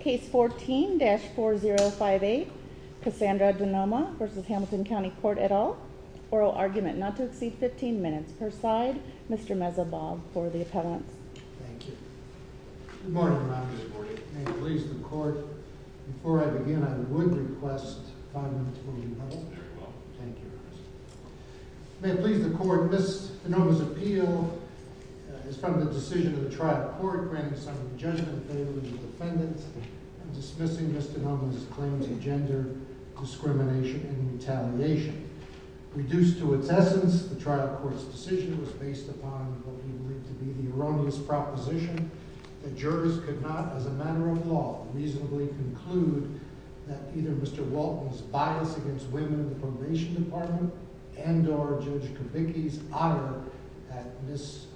Case 14-4058, Cassandra DeNoma v. Hamilton County Court et al. Oral argument not to exceed 15 minutes per side. Mr. Meza Bob for the appellants. Thank you. Good morning, Your Honor. Good morning. May it please the Court, before I begin, I would request five minutes for the appellants. Very well. Thank you, Your Honor. May it please the Court, Ms. DeNoma's appeal is from the decision of the trial court, granting some of the judgment favorably to the defendants, and dismissing Ms. DeNoma's claims of gender discrimination and retaliation. Reduced to its essence, the trial court's decision was based upon what we believe to be the erroneous proposition that jurors could not, as a matter of law, reasonably conclude that either Mr. Walton's bias against women in the probation department and or Judge Kubicki's ire at Ms.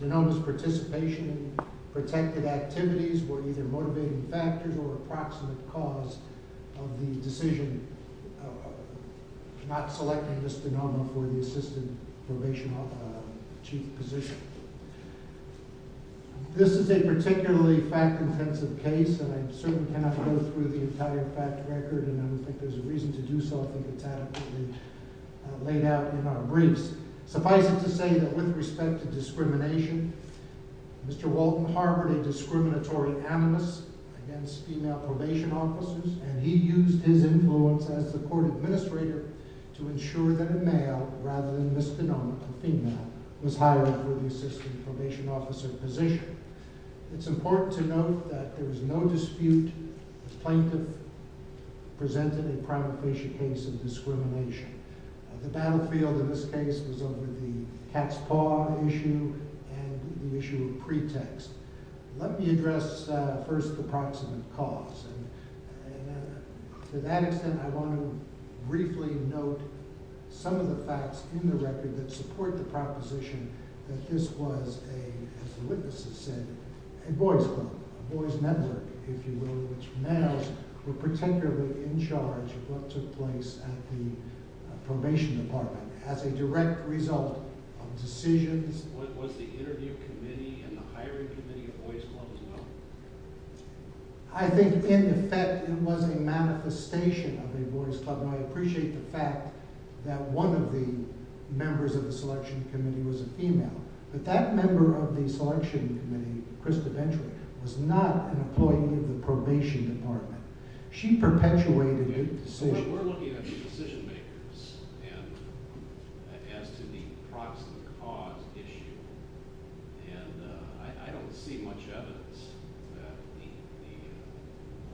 DeNoma's participation in protected activities were either motivating factors or approximate cause of the decision to not select Ms. DeNoma for the assistant probation chief position. This is a particularly fact-intensive case, and I certainly cannot go through the entire fact record, and I don't think there's a reason to do so. I think it's adequately laid out in our briefs. Suffice it to say that with respect to discrimination, Mr. Walton harbored a discriminatory animus against female probation officers, and he used his influence as the court administrator to ensure that a male rather than Ms. DeNoma, a female, was hired for the assistant probation officer position. It's important to note that there was no dispute if plaintiff presented a prima facie case of discrimination. The battlefield in this case was over the cat's paw issue and the issue of pretext. Let me address first the approximate cause. To that extent, I want to briefly note some of the facts in the record that support the proposition that this was, as the witnesses said, a boys' club, a boys' network, if you will, in which males were particularly in charge of what took place at the probation department as a direct result of decisions. Was the interview committee and the hiring committee a boys' club as well? I think, in effect, it was a manifestation of a boys' club, and I appreciate the fact that one of the members of the selection committee was a female, but that member of the selection committee, Krista Ventric, was not an employee of the probation department. She perpetuated the decision. And as to the approximate cause issue, I don't see much evidence that the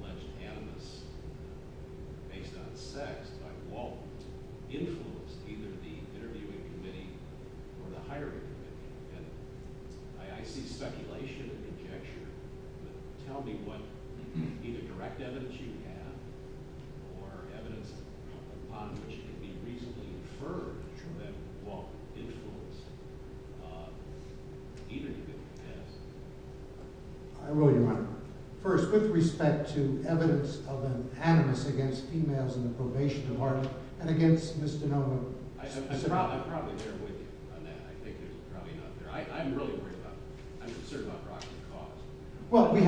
alleged animus based on sex by Walton influenced either the interviewing committee or the hiring committee. And I see speculation and conjecture, but tell me what either direct evidence you have or evidence upon which it can be reasonably inferred that Walton influenced either committee. Yes. I will, Your Honor. First, with respect to evidence of an animus against females in the probation department and against Ms. DeNova. I'm probably there with you on that. I think there's probably none there. I'm really worried about it. I'm concerned about rocking the cause. Well, we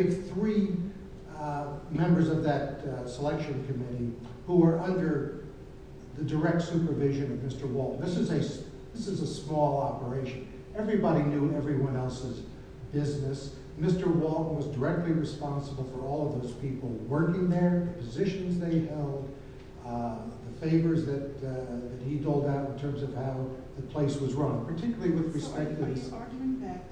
have three members of that selection committee who are under the direct supervision of Mr. Walton. This is a small operation. Everybody knew everyone else's business. Mr. Walton was directly responsible for all of those people working there, the positions they held, the favors that he doled out in terms of how the place was run. Are you arguing that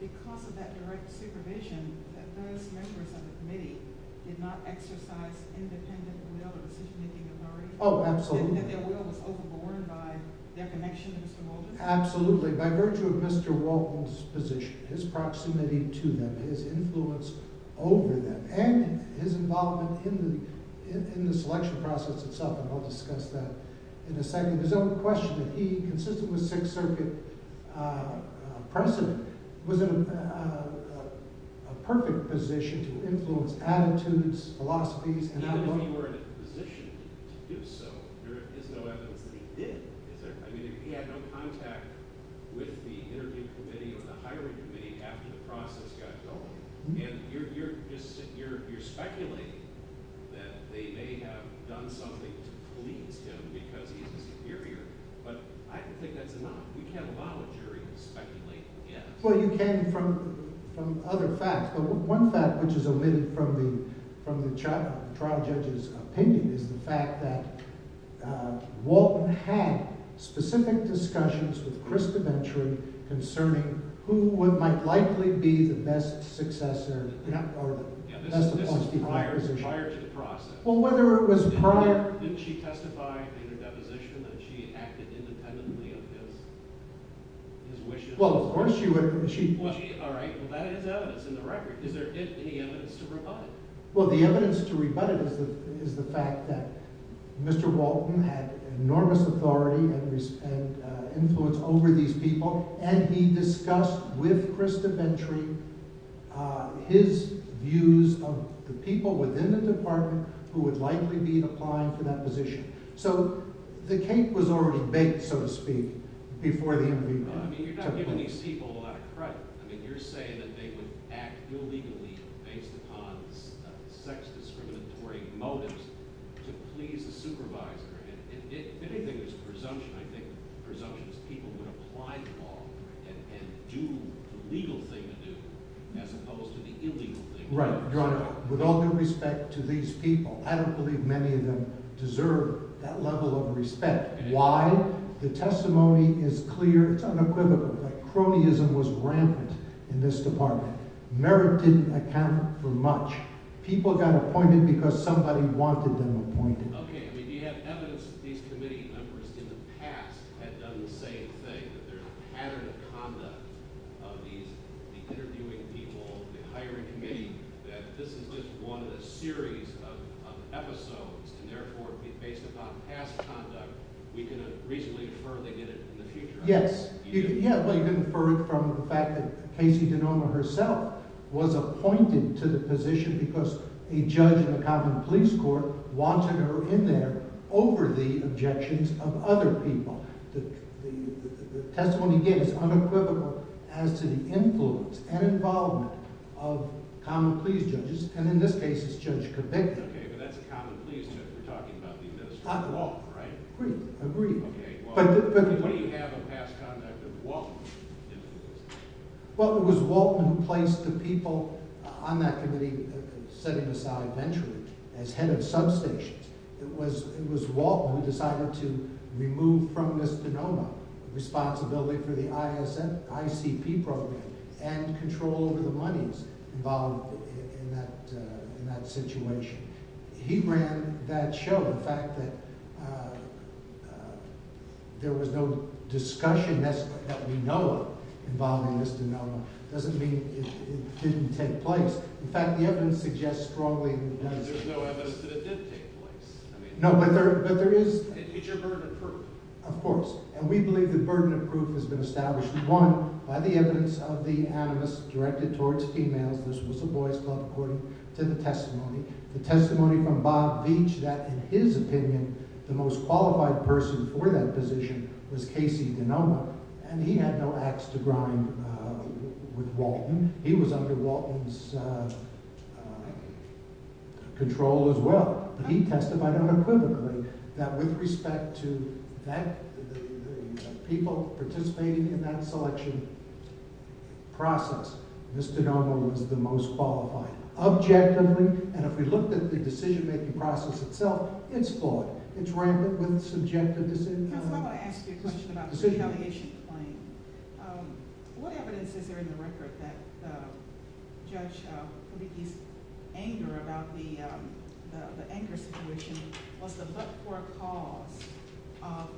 because of that direct supervision, that those members of the committee did not exercise independent will or decision-making authority? Oh, absolutely. That their will was overborne by their connection to Mr. Walton? Absolutely. By virtue of Mr. Walton's position, his proximity to them, his influence over them, and his involvement in the selection process itself, and I'll discuss that in a second. There's no question that he, consistent with Sixth Circuit precedent, was in a perfect position to influence attitudes, philosophies, and outlook. When you were in a position to do so, there is no evidence that he did. He had no contact with the interview committee or the hiring committee after the process got going. You're speculating that they may have done something to please him because he's a superior, but I don't think that's enough. You can't allow a jury to speculate again. Well, you can from other facts, but one fact, which is omitted from the trial judge's opinion, is the fact that Walton had specific discussions with Chris Deventry concerning who might likely be the best successor. This is prior to the process. Well, whether it was prior… Didn't she testify in her deposition that she acted independently of his wishes? Well, that is evidence in the record. Is there any evidence to rebut it? Well, the evidence to rebut it is the fact that Mr. Walton had enormous authority and influence over these people, and he discussed with Chris Deventry his views of the people within the department who would likely be applying for that position. So, the cake was already baked, so to speak, before the interview took place. I mean, you're not giving these people a lot of credit. I mean, you're saying that they would act illegally based upon sex-discriminatory motives to please the supervisor. If anything, there's a presumption. I think the presumption is people would apply to all and do the legal thing to do as opposed to the illegal thing to do. Right. Your Honor, with all due respect to these people, I don't believe many of them deserve that level of respect. Why? The testimony is clear. It's unequivocal that cronyism was rampant in this department. Merit didn't account for much. People got appointed because somebody wanted them appointed. Okay. I mean, do you have evidence that these committee members in the past had done the same thing, that there's a pattern of conduct of these interviewing people, the hiring committee, that this is just one of a series of episodes, and therefore, based upon past conduct, we can reasonably infer they did it in the future? Yes. Well, you can infer it from the fact that Casey Denoma herself was appointed to the position because a judge in the Common Pleas Court wanted her in there over the objections of other people. The testimony gave is unequivocal as to the influence and involvement of Common Pleas judges, and in this case, it's Judge Convict. Okay, but that's a Common Pleas judge. We're talking about the administrative law, right? Agreed. Agreed. Okay, well, what do you have of past conduct of Walton? Well, it was Walton who placed the people on that committee, setting aside Venturi as head of substations. It was Walton who decided to remove from Ms. Denoma responsibility for the ICP program and control over the monies involved in that situation. He ran that show. The fact that there was no discussion that we know of involving Ms. Denoma doesn't mean it didn't take place. In fact, the evidence suggests strongly that it did. There's no evidence that it did take place. No, but there is… It's your burden of proof. Of course, and we believe the burden of proof has been established, one, by the evidence of the animus directed towards females. This was the Boys Club according to the testimony. The testimony from Bob Beach that, in his opinion, the most qualified person for that position was Casey Denoma, and he had no ax to grind with Walton. He was under Walton's control as well. He testified unequivocally that with respect to the people participating in that selection process, Ms. Denoma was the most qualified. Objectively, and if we looked at the decision-making process itself, it's flawed. It's rampant with subjective decisions. I want to ask you a question about the retaliation claim. What evidence is there in the record that Judge Kubicki's anger about the Anchor situation was the but-for cause of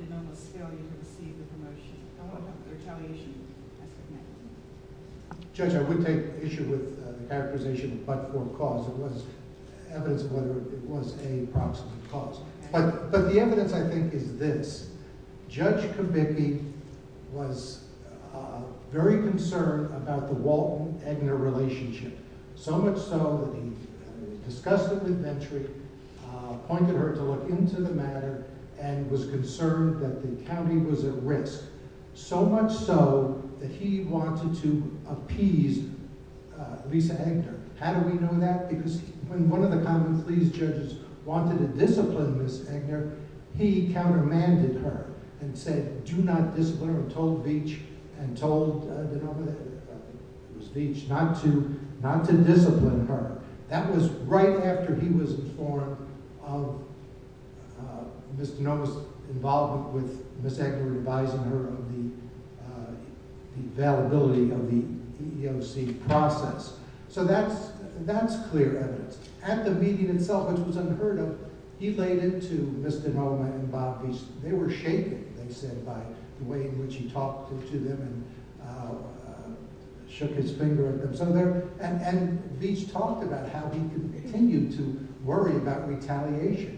Denoma's failure to receive the promotion? I want to know if the retaliation is there. Judge, I would take issue with the characterization of but-for cause. It was evidence of whether it was a proximate cause. But the evidence, I think, is this. Judge Kubicki was very concerned about the Walton-Egner relationship, so much so that he discussed it with Venturi, appointed her to look into the matter, and was concerned that the county was at risk, so much so that he wanted to appease Lisa Egner. How do we know that? Because when one of the Common Pleas judges wanted to discipline Ms. Egner, he countermanded her and said, do not discipline her, and told Veitch not to discipline her. That was right after he was informed of Ms. Denoma's involvement with Ms. Egner, advising her of the availability of the EEOC process. So that's clear evidence. At the meeting itself, which was unheard of, he laid into Ms. Denoma and Bob Veitch. They were shaking, they said, by the way in which he talked to them and shook his finger at them. And Veitch talked about how he continued to worry about retaliation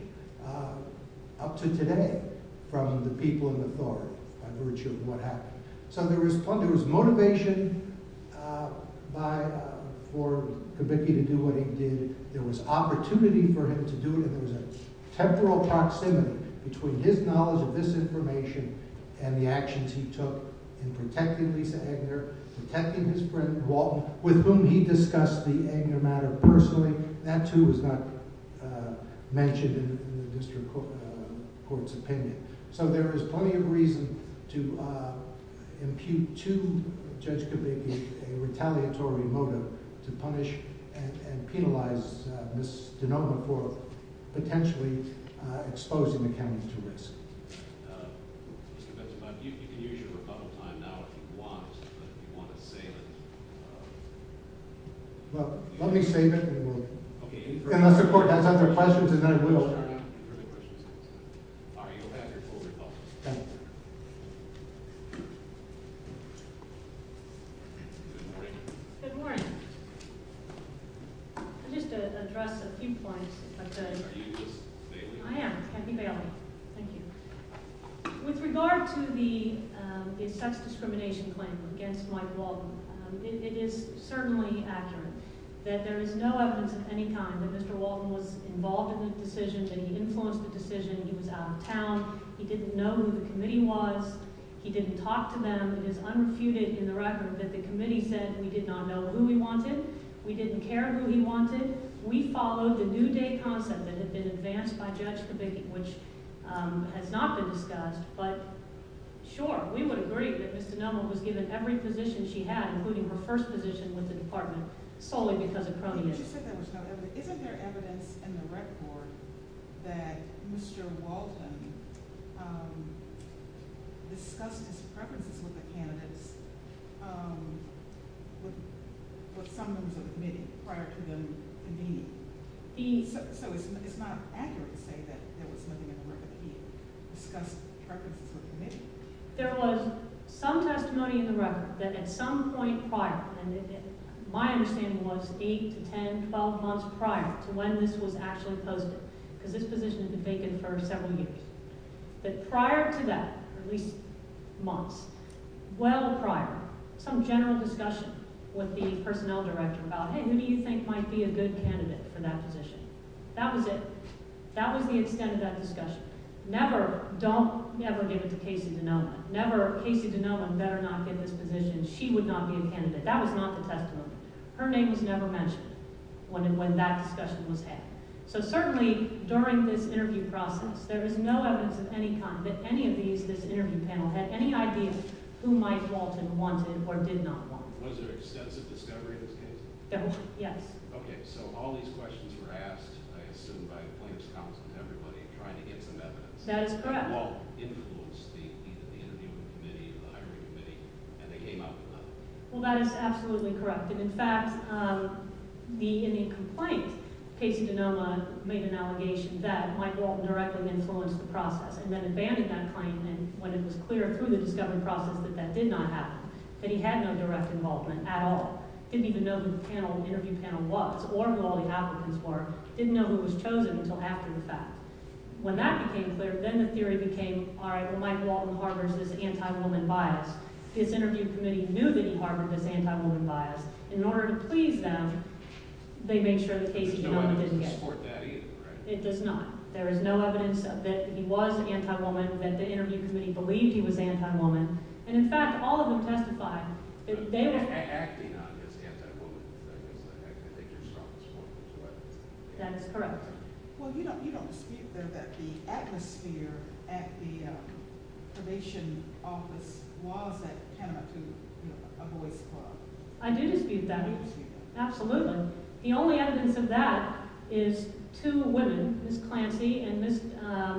up to today from the people in authority by virtue of what happened. So there was motivation for Kubicki to do what he did. There was opportunity for him to do it, and there was a temporal proximity between his knowledge of this information and the actions he took in protecting Lisa Egner, protecting his friend Walton, with whom he discussed the Egner matter personally. That, too, was not mentioned in the district court's opinion. So there is plenty of reason to impute to Judge Kubicki a retaliatory motive to punish and penalize Ms. Denoma for potentially exposing the county to risk. Mr. Benson, you can use your rebuttal time now if you want, but if you want to save it… Well, let me save it and we'll… Okay, any further questions? Unless the court has other questions, then I will. All right, you'll have your full rebuttal. Thank you. Good morning. Good morning. I'll just address a few points, if I could. Are you Ms. Bailey? I am, Kathy Bailey. Thank you. With regard to the sex discrimination claim against Mike Walton, it is certainly accurate that there is no evidence at any time that Mr. Walton was involved in the decision, that he influenced the decision. He was out of town. He didn't know who the committee was. He didn't talk to them. It is unrefuted in the record that the committee said we did not know who he wanted. We didn't care who he wanted. We followed the New Day concept that had been advanced by Judge Kubicki, which has not been discussed. But, sure, we would agree that Ms. Denoma was given every position she had, including her first position with the department, solely because of cronyism. But you said there was no evidence. Isn't there evidence in the record that Mr. Walton discussed his preferences with the candidates with some members of the committee prior to them convening? So it's not accurate to say that there was nothing in the record that he discussed preferences with the committee? There was some testimony in the record that at some point prior, and my understanding was 8 to 10, 12 months prior to when this was actually posted, because this position had been vacant for several years, that prior to that, at least months, well prior, some general discussion with the personnel director about, hey, who do you think might be a good candidate for that position? That was it. That was the extent of that discussion. Never, don't ever give it to Casey Denoma. Never. Casey Denoma better not get this position. She would not be a candidate. That was not the testimony. Her name was never mentioned when that discussion was had. So certainly, during this interview process, there is no evidence of any kind that any of these, this interview panel, had any idea who Mike Walton wanted or did not want. Was there extensive discovery in this case? There was, yes. Okay, so all these questions were asked, I assume by the plaintiff's counsel and everybody, trying to get some evidence. That is correct. Did Walt influence the interview committee, the hiring committee, and they came up with nothing? Well, that is absolutely correct, and in fact, in the complaint, Casey Denoma made an allegation that Mike Walton directly influenced the process, and then abandoned that claim when it was clear through the discovery process that that did not happen, that he had no direct involvement at all, didn't even know who the panel, the interview panel was or who all the applicants were, didn't know who was chosen until after the fact. When that became clear, then the theory became, all right, well, Mike Walton harbors this anti-woman bias. His interview committee knew that he harbored this anti-woman bias, and in order to please them, they made sure that Casey Denoma didn't get it. That he was anti-woman, that the interview committee believed he was anti-woman, and in fact, all of them testified that they were… Acting on his anti-woman, I guess, I could think of strong support for that. That is correct. Well, you don't dispute, though, that the atmosphere at the probation office was that kind of a two, you know, a voice club. I do dispute that. You dispute that. The fact is, two women, Ms. Clancy and Ms.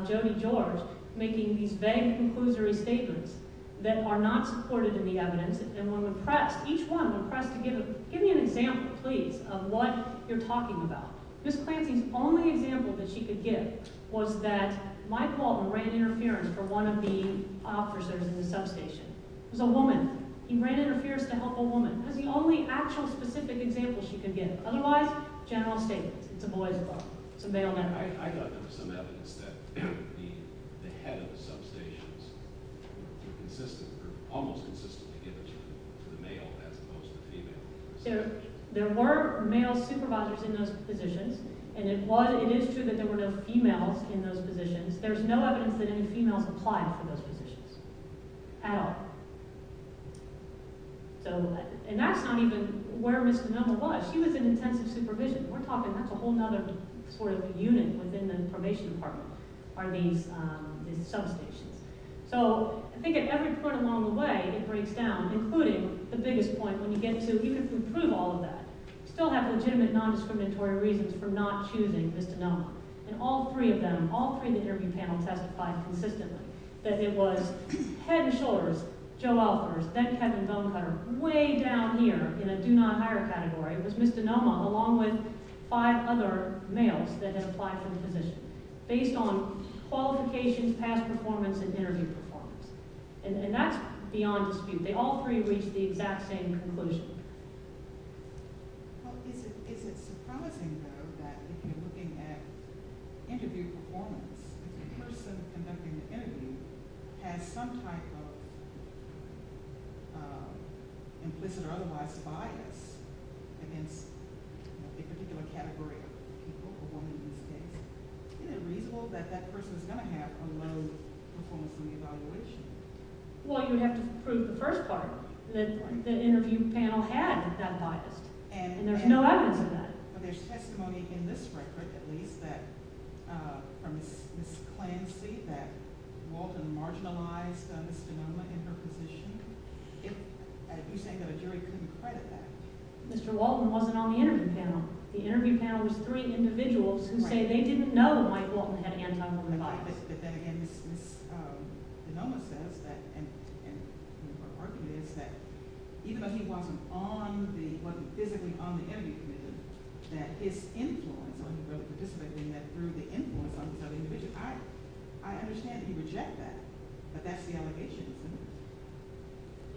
Jodi George, making these vague, conclusory statements that are not supported in the evidence, and when pressed, each one when pressed to give, give me an example, please, of what you're talking about. Ms. Clancy's only example that she could give was that Mike Walton ran interference for one of the officers in the substation. It was a woman. He ran interference to help a woman. That was the only actual, specific example she could give. Otherwise, general statements. It's a voice club. It's a male network. I thought there was some evidence that the head of the substations was consistent, or almost consistent, in giving to the male as opposed to the female. There were male supervisors in those positions, and it is true that there were no females in those positions. There's no evidence that any females applied for those positions at all. And that's not even where Ms. DeNoma was. She was in intensive supervision. We're talking that's a whole other sort of unit within the information department are these substations. So I think at every point along the way, it breaks down, including the biggest point. When you get to, you can prove all of that. You still have legitimate, non-discriminatory reasons for not choosing Ms. DeNoma. And all three of them, all three of the interview panels testified consistently that it was head and shoulders, Joe Alpers, then Kevin Bonecutter, way down here in a do-not-hire category. It was Ms. DeNoma along with five other males that had applied for the position based on qualifications, past performance, and interview performance. And that's beyond dispute. They all three reached the exact same conclusion. Well, is it surprising, though, that if you're looking at interview performance, if the person conducting the interview has some type of implicit or otherwise bias against a particular category of people or women in this case, isn't it reasonable that that person is going to have a low performance in the evaluation? Well, you would have to prove the first part, that the interview panel had that bias. And there's no evidence of that. But there's testimony in this record, at least, from Ms. Clancy, that Walton marginalized Ms. DeNoma in her position. You're saying that a jury couldn't credit that? Mr. Walton wasn't on the interview panel. The interview panel was three individuals who say they didn't know that Mike Walton had anti-woman bias. But then again, Ms. DeNoma says that, and her argument is that even though he wasn't physically on the interview panel, that his influence on the participants through the influence on these other individuals, I understand that you reject that. But that's the allegation, isn't it?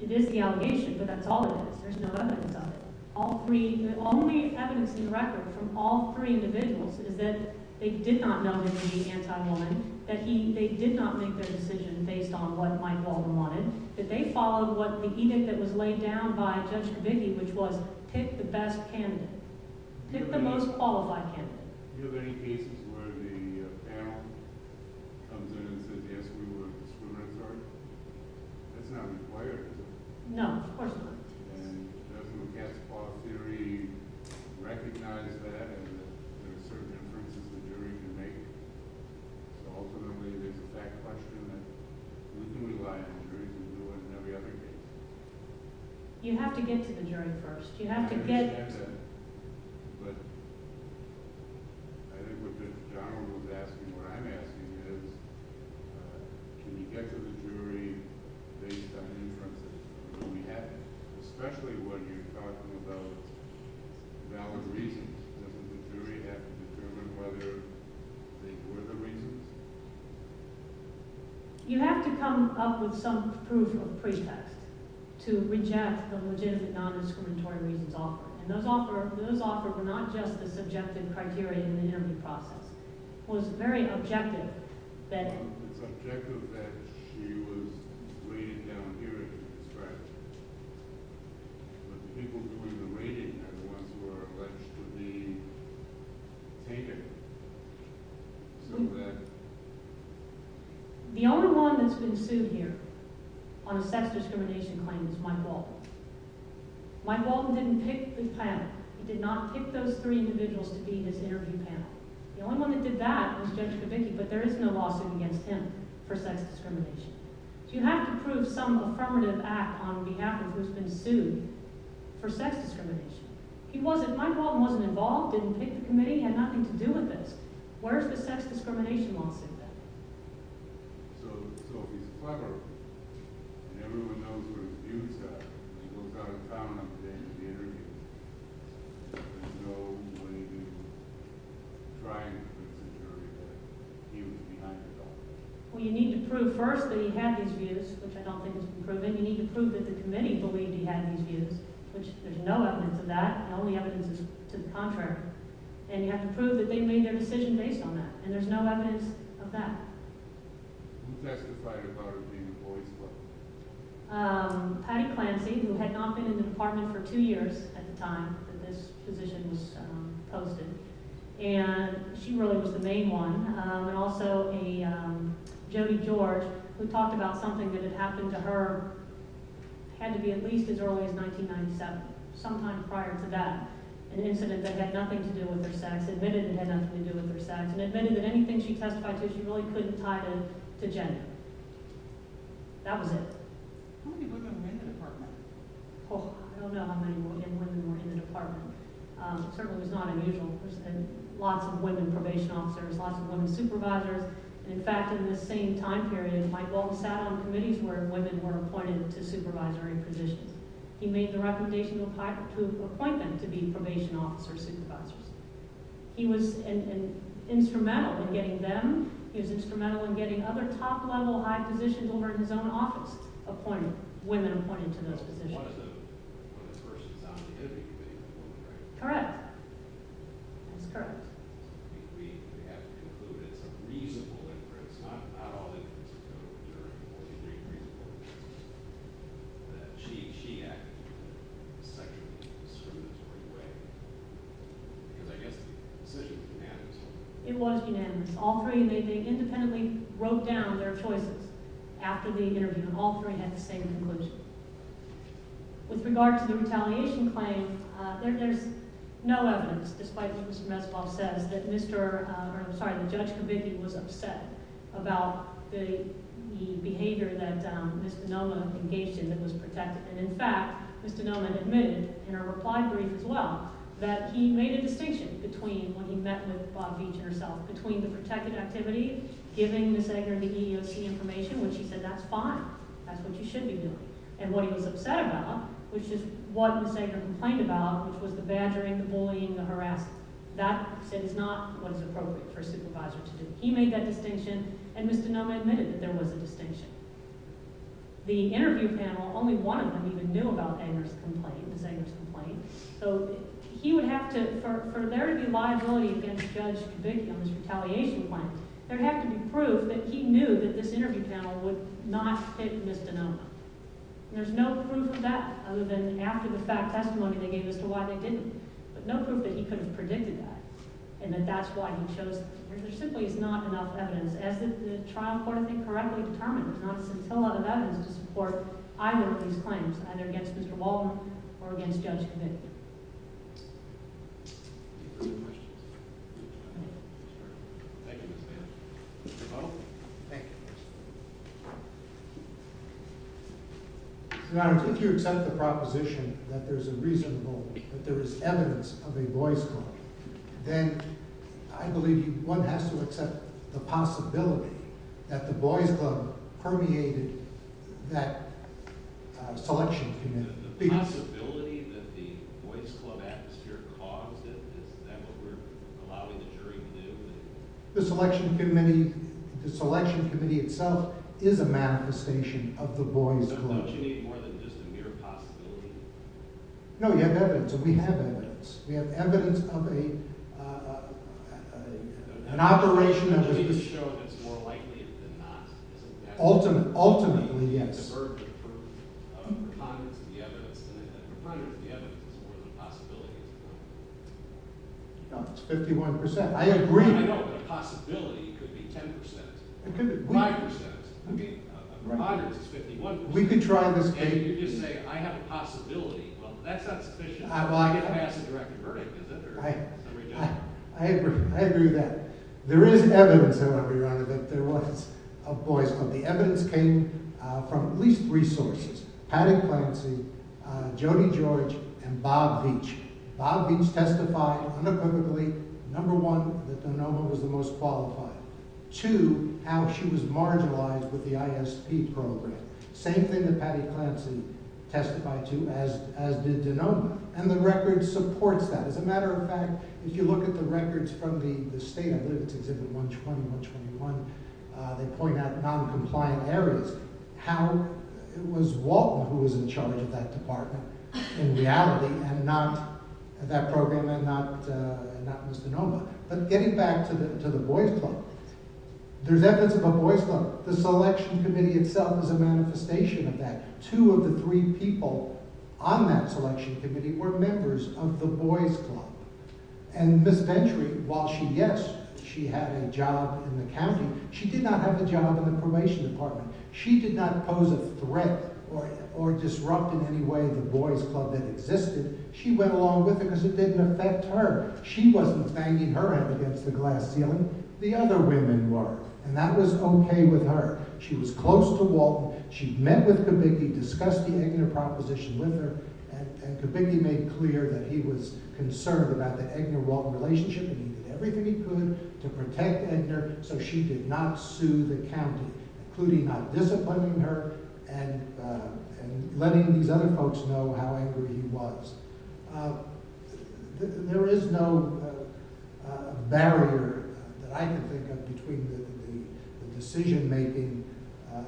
It is the allegation. But that's all it is. There's no evidence of it. The only evidence in the record from all three individuals is that they did not know that he was anti-woman. They did not make their decision based on what Mike Walton wanted. They followed the edict that was laid down by Judge Khabibi, which was, pick the best candidate. Pick the most qualified candidate. Do you have any cases where the panel comes in and says, yes, we were discriminatory? That's not required, is it? No, of course not. And doesn't a guest court theory recognize that and that there are certain inferences the jury can make? So ultimately, there's a fact question that we do rely on the jury to do it in every other case. You have to get to the jury first. You have to get— But I think what John was asking, what I'm asking is, can you get to the jury based on inferences? Especially when you're talking about valid reasons, doesn't the jury have to determine whether they were the reasons? You have to come up with some proof of pretext to reject the legitimate non-discriminatory reasons offered. And those offered were not just the subjective criteria in the interview process. It was very objective that— It's objective that she was weighted down here in the district. But the people doing the weighting are the ones who are alleged to be taken. So that— The only one that's been sued here on a sex discrimination claim is Mike Walton. Mike Walton didn't pick the panel. He did not pick those three individuals to be in his interview panel. The only one that did that was Judge Kavicki, but there is no lawsuit against him for sex discrimination. So you have to prove some affirmative act on behalf of who's been sued for sex discrimination. He wasn't—Mike Walton wasn't involved, didn't pick the committee, had nothing to do with this. Where's the sex discrimination lawsuit then? So he's clever, and everyone knows where his views are. He goes out of town on the day of the interview. There's no way to try and put security there. He was behind it all. Who testified about her being a boy's wife? That was it. How many women were in the department? I don't know how many women were in the department. It certainly was not unusual. Lots of women probation officers, lots of women supervisors. In fact, in the same time period, Mike Walton sat on committees where women were appointed to supervisory positions. He made the recommendation to appoint them to be probation officers, supervisors. He was instrumental in getting them. He was instrumental in getting other top-level, high positions over in his own office appointed—women appointed to those positions. One of the persons on the interview committee was a woman, right? Correct. That's correct. We have concluded it's a reasonable inference. Not all inferences are true. She acted in a sexually discriminatory way. Because I guess the decision was unanimous. It was unanimous. All three—they independently wrote down their choices after the interview. All three had the same conclusion. With regard to the retaliation claim, there's no evidence, despite what Mr. Metzlaff says, that Mr.— I'm sorry, that Judge Kovicki was upset about the behavior that Mr. Noman engaged in that was protected. And, in fact, Mr. Noman admitted in a reply brief as well that he made a distinction between when he met with Bob Beach and herself, between the protected activity, giving Ms. Agner the EEOC information, which he said that's fine, that's what you should be doing, and what he was upset about, which is what Ms. Agner complained about, which was the badgering, the bullying, the harassment. That, he said, is not what is appropriate for a supervisor to do. He made that distinction, and Mr. Noman admitted that there was a distinction. The interview panel, only one of them even knew about Agner's complaint, Ms. Agner's complaint. So he would have to—for there to be liability against Judge Kovicki on his retaliation claim, there would have to be proof that he knew that this interview panel would not pick Ms. DeNoma. And there's no proof of that other than after the fact testimony they gave as to why they didn't, but no proof that he could have predicted that and that that's why he chose— There simply is not enough evidence, as the trial court, I think, correctly determined. There's not a whole lot of evidence to support either of these claims, either against Mr. Waldron or against Judge Kovicki. Your Honor, if you accept the proposition that there's a reasonable, that there is evidence of a voice call, then I believe one has to accept the possibility that the Boys Club permeated that selection committee. The possibility that the Boys Club atmosphere caused it, is that what we're allowing the jury to do? The selection committee itself is a manifestation of the Boys Club. So don't you need more than just a mere possibility? No, you have evidence, and we have evidence. We have evidence of an operation that was— Ultimately, yes. No, it's 51%. I agree. I don't know, but a possibility could be 10%. It could be 5%. A preponderance is 51%. We could try this— And you just say, I have a possibility. Well, that's not sufficient to get past a direct verdict, is it? I agree with that. There is evidence, however, Your Honor, that there was a voice call. The evidence came from at least three sources. Paddock Clancy, Jody George, and Bob Beach. Bob Beach testified unequivocally, number one, that DeNova was the most qualified. Two, how she was marginalized with the ISP program. Same thing that Paddock Clancy testified to, as did DeNova. And the record supports that. As a matter of fact, if you look at the records from the state— I believe it's Exhibit 120, 121— they point out noncompliant areas. It was Waltner who was in charge of that department, in reality, and not that program and not Mr. DeNova. But getting back to the Boys Club, there's evidence of a Boys Club. The selection committee itself is a manifestation of that. Two of the three people on that selection committee were members of the Boys Club. And Ms. Venturi, while she, yes, she had a job in the county, she did not have a job in the probation department. She did not pose a threat or disrupt in any way the Boys Club that existed. She went along with it because it didn't affect her. She wasn't banging her head against the glass ceiling. The other women were, and that was okay with her. She was close to Waltner. She met with Kubicki, discussed the EGNR proposition with her, and Kubicki made clear that he was concerned about the EGNR-Waltner relationship, and he did everything he could to protect EGNR, so she did not sue the county, including not disciplining her and letting these other folks know how angry he was. There is no barrier that I can think of between the decision-making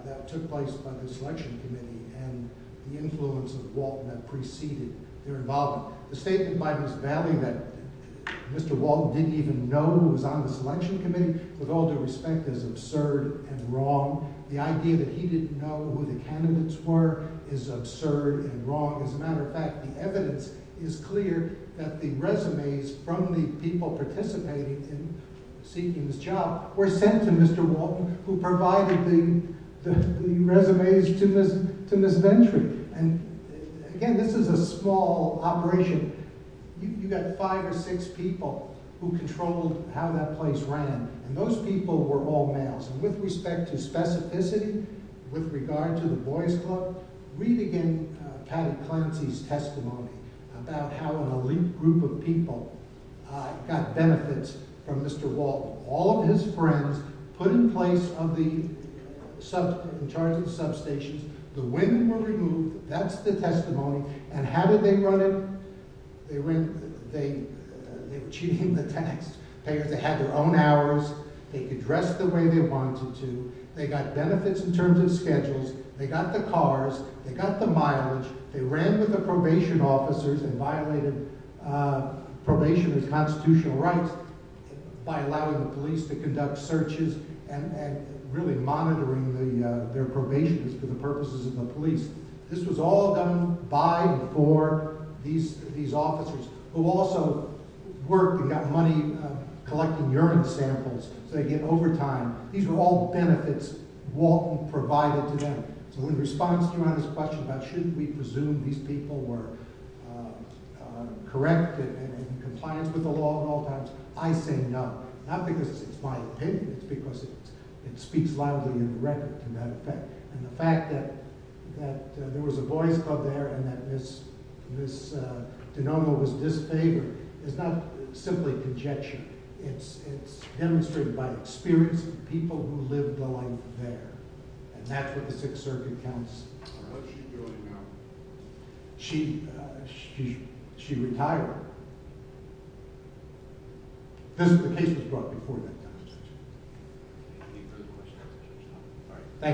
that took place by the selection committee and the influence of Waltner preceding their involvement. The statement by Ms. Valley that Mr. Walton didn't even know who was on the selection committee, with all due respect, is absurd and wrong. The idea that he didn't know who the candidates were is absurd and wrong. As a matter of fact, the evidence is clear that the resumes from the people participating in seeking this job were sent to Mr. Walton, who provided the resumes to Ms. Venturi. Again, this is a small operation. You've got five or six people who controlled how that place ran, and those people were all males. With respect to specificity, with regard to the Boys Club, read again Patty Clancy's testimony about how an elite group of people got benefits from Mr. Walton. All of his friends were put in charge of the substations. The women were removed. That's the testimony. And how did they run it? They were cheating the tax payers. They had their own hours. They could dress the way they wanted to. They got benefits in terms of schedules. They got the cars. They got the mileage. They ran with the probation officers and violated probation and constitutional rights by allowing the police to conduct searches and really monitoring their probationists for the purposes of the police. This was all done by and for these officers, who also worked and got money collecting urine samples so they could get overtime. These were all benefits Walton provided to them. So in response to your honest question about should we presume these people were correct and in compliance with the law at all times, I say no. Not because it's my opinion. It's because it speaks loudly in the record to that effect. And the fact that there was a Boys Club there and that Ms. Dinova was disfavored is not simply conjecture. It's demonstrated by experience of people who lived a life there. And that's what the Sixth Circuit counts. What's she doing now? She retired. The case was brought before that time.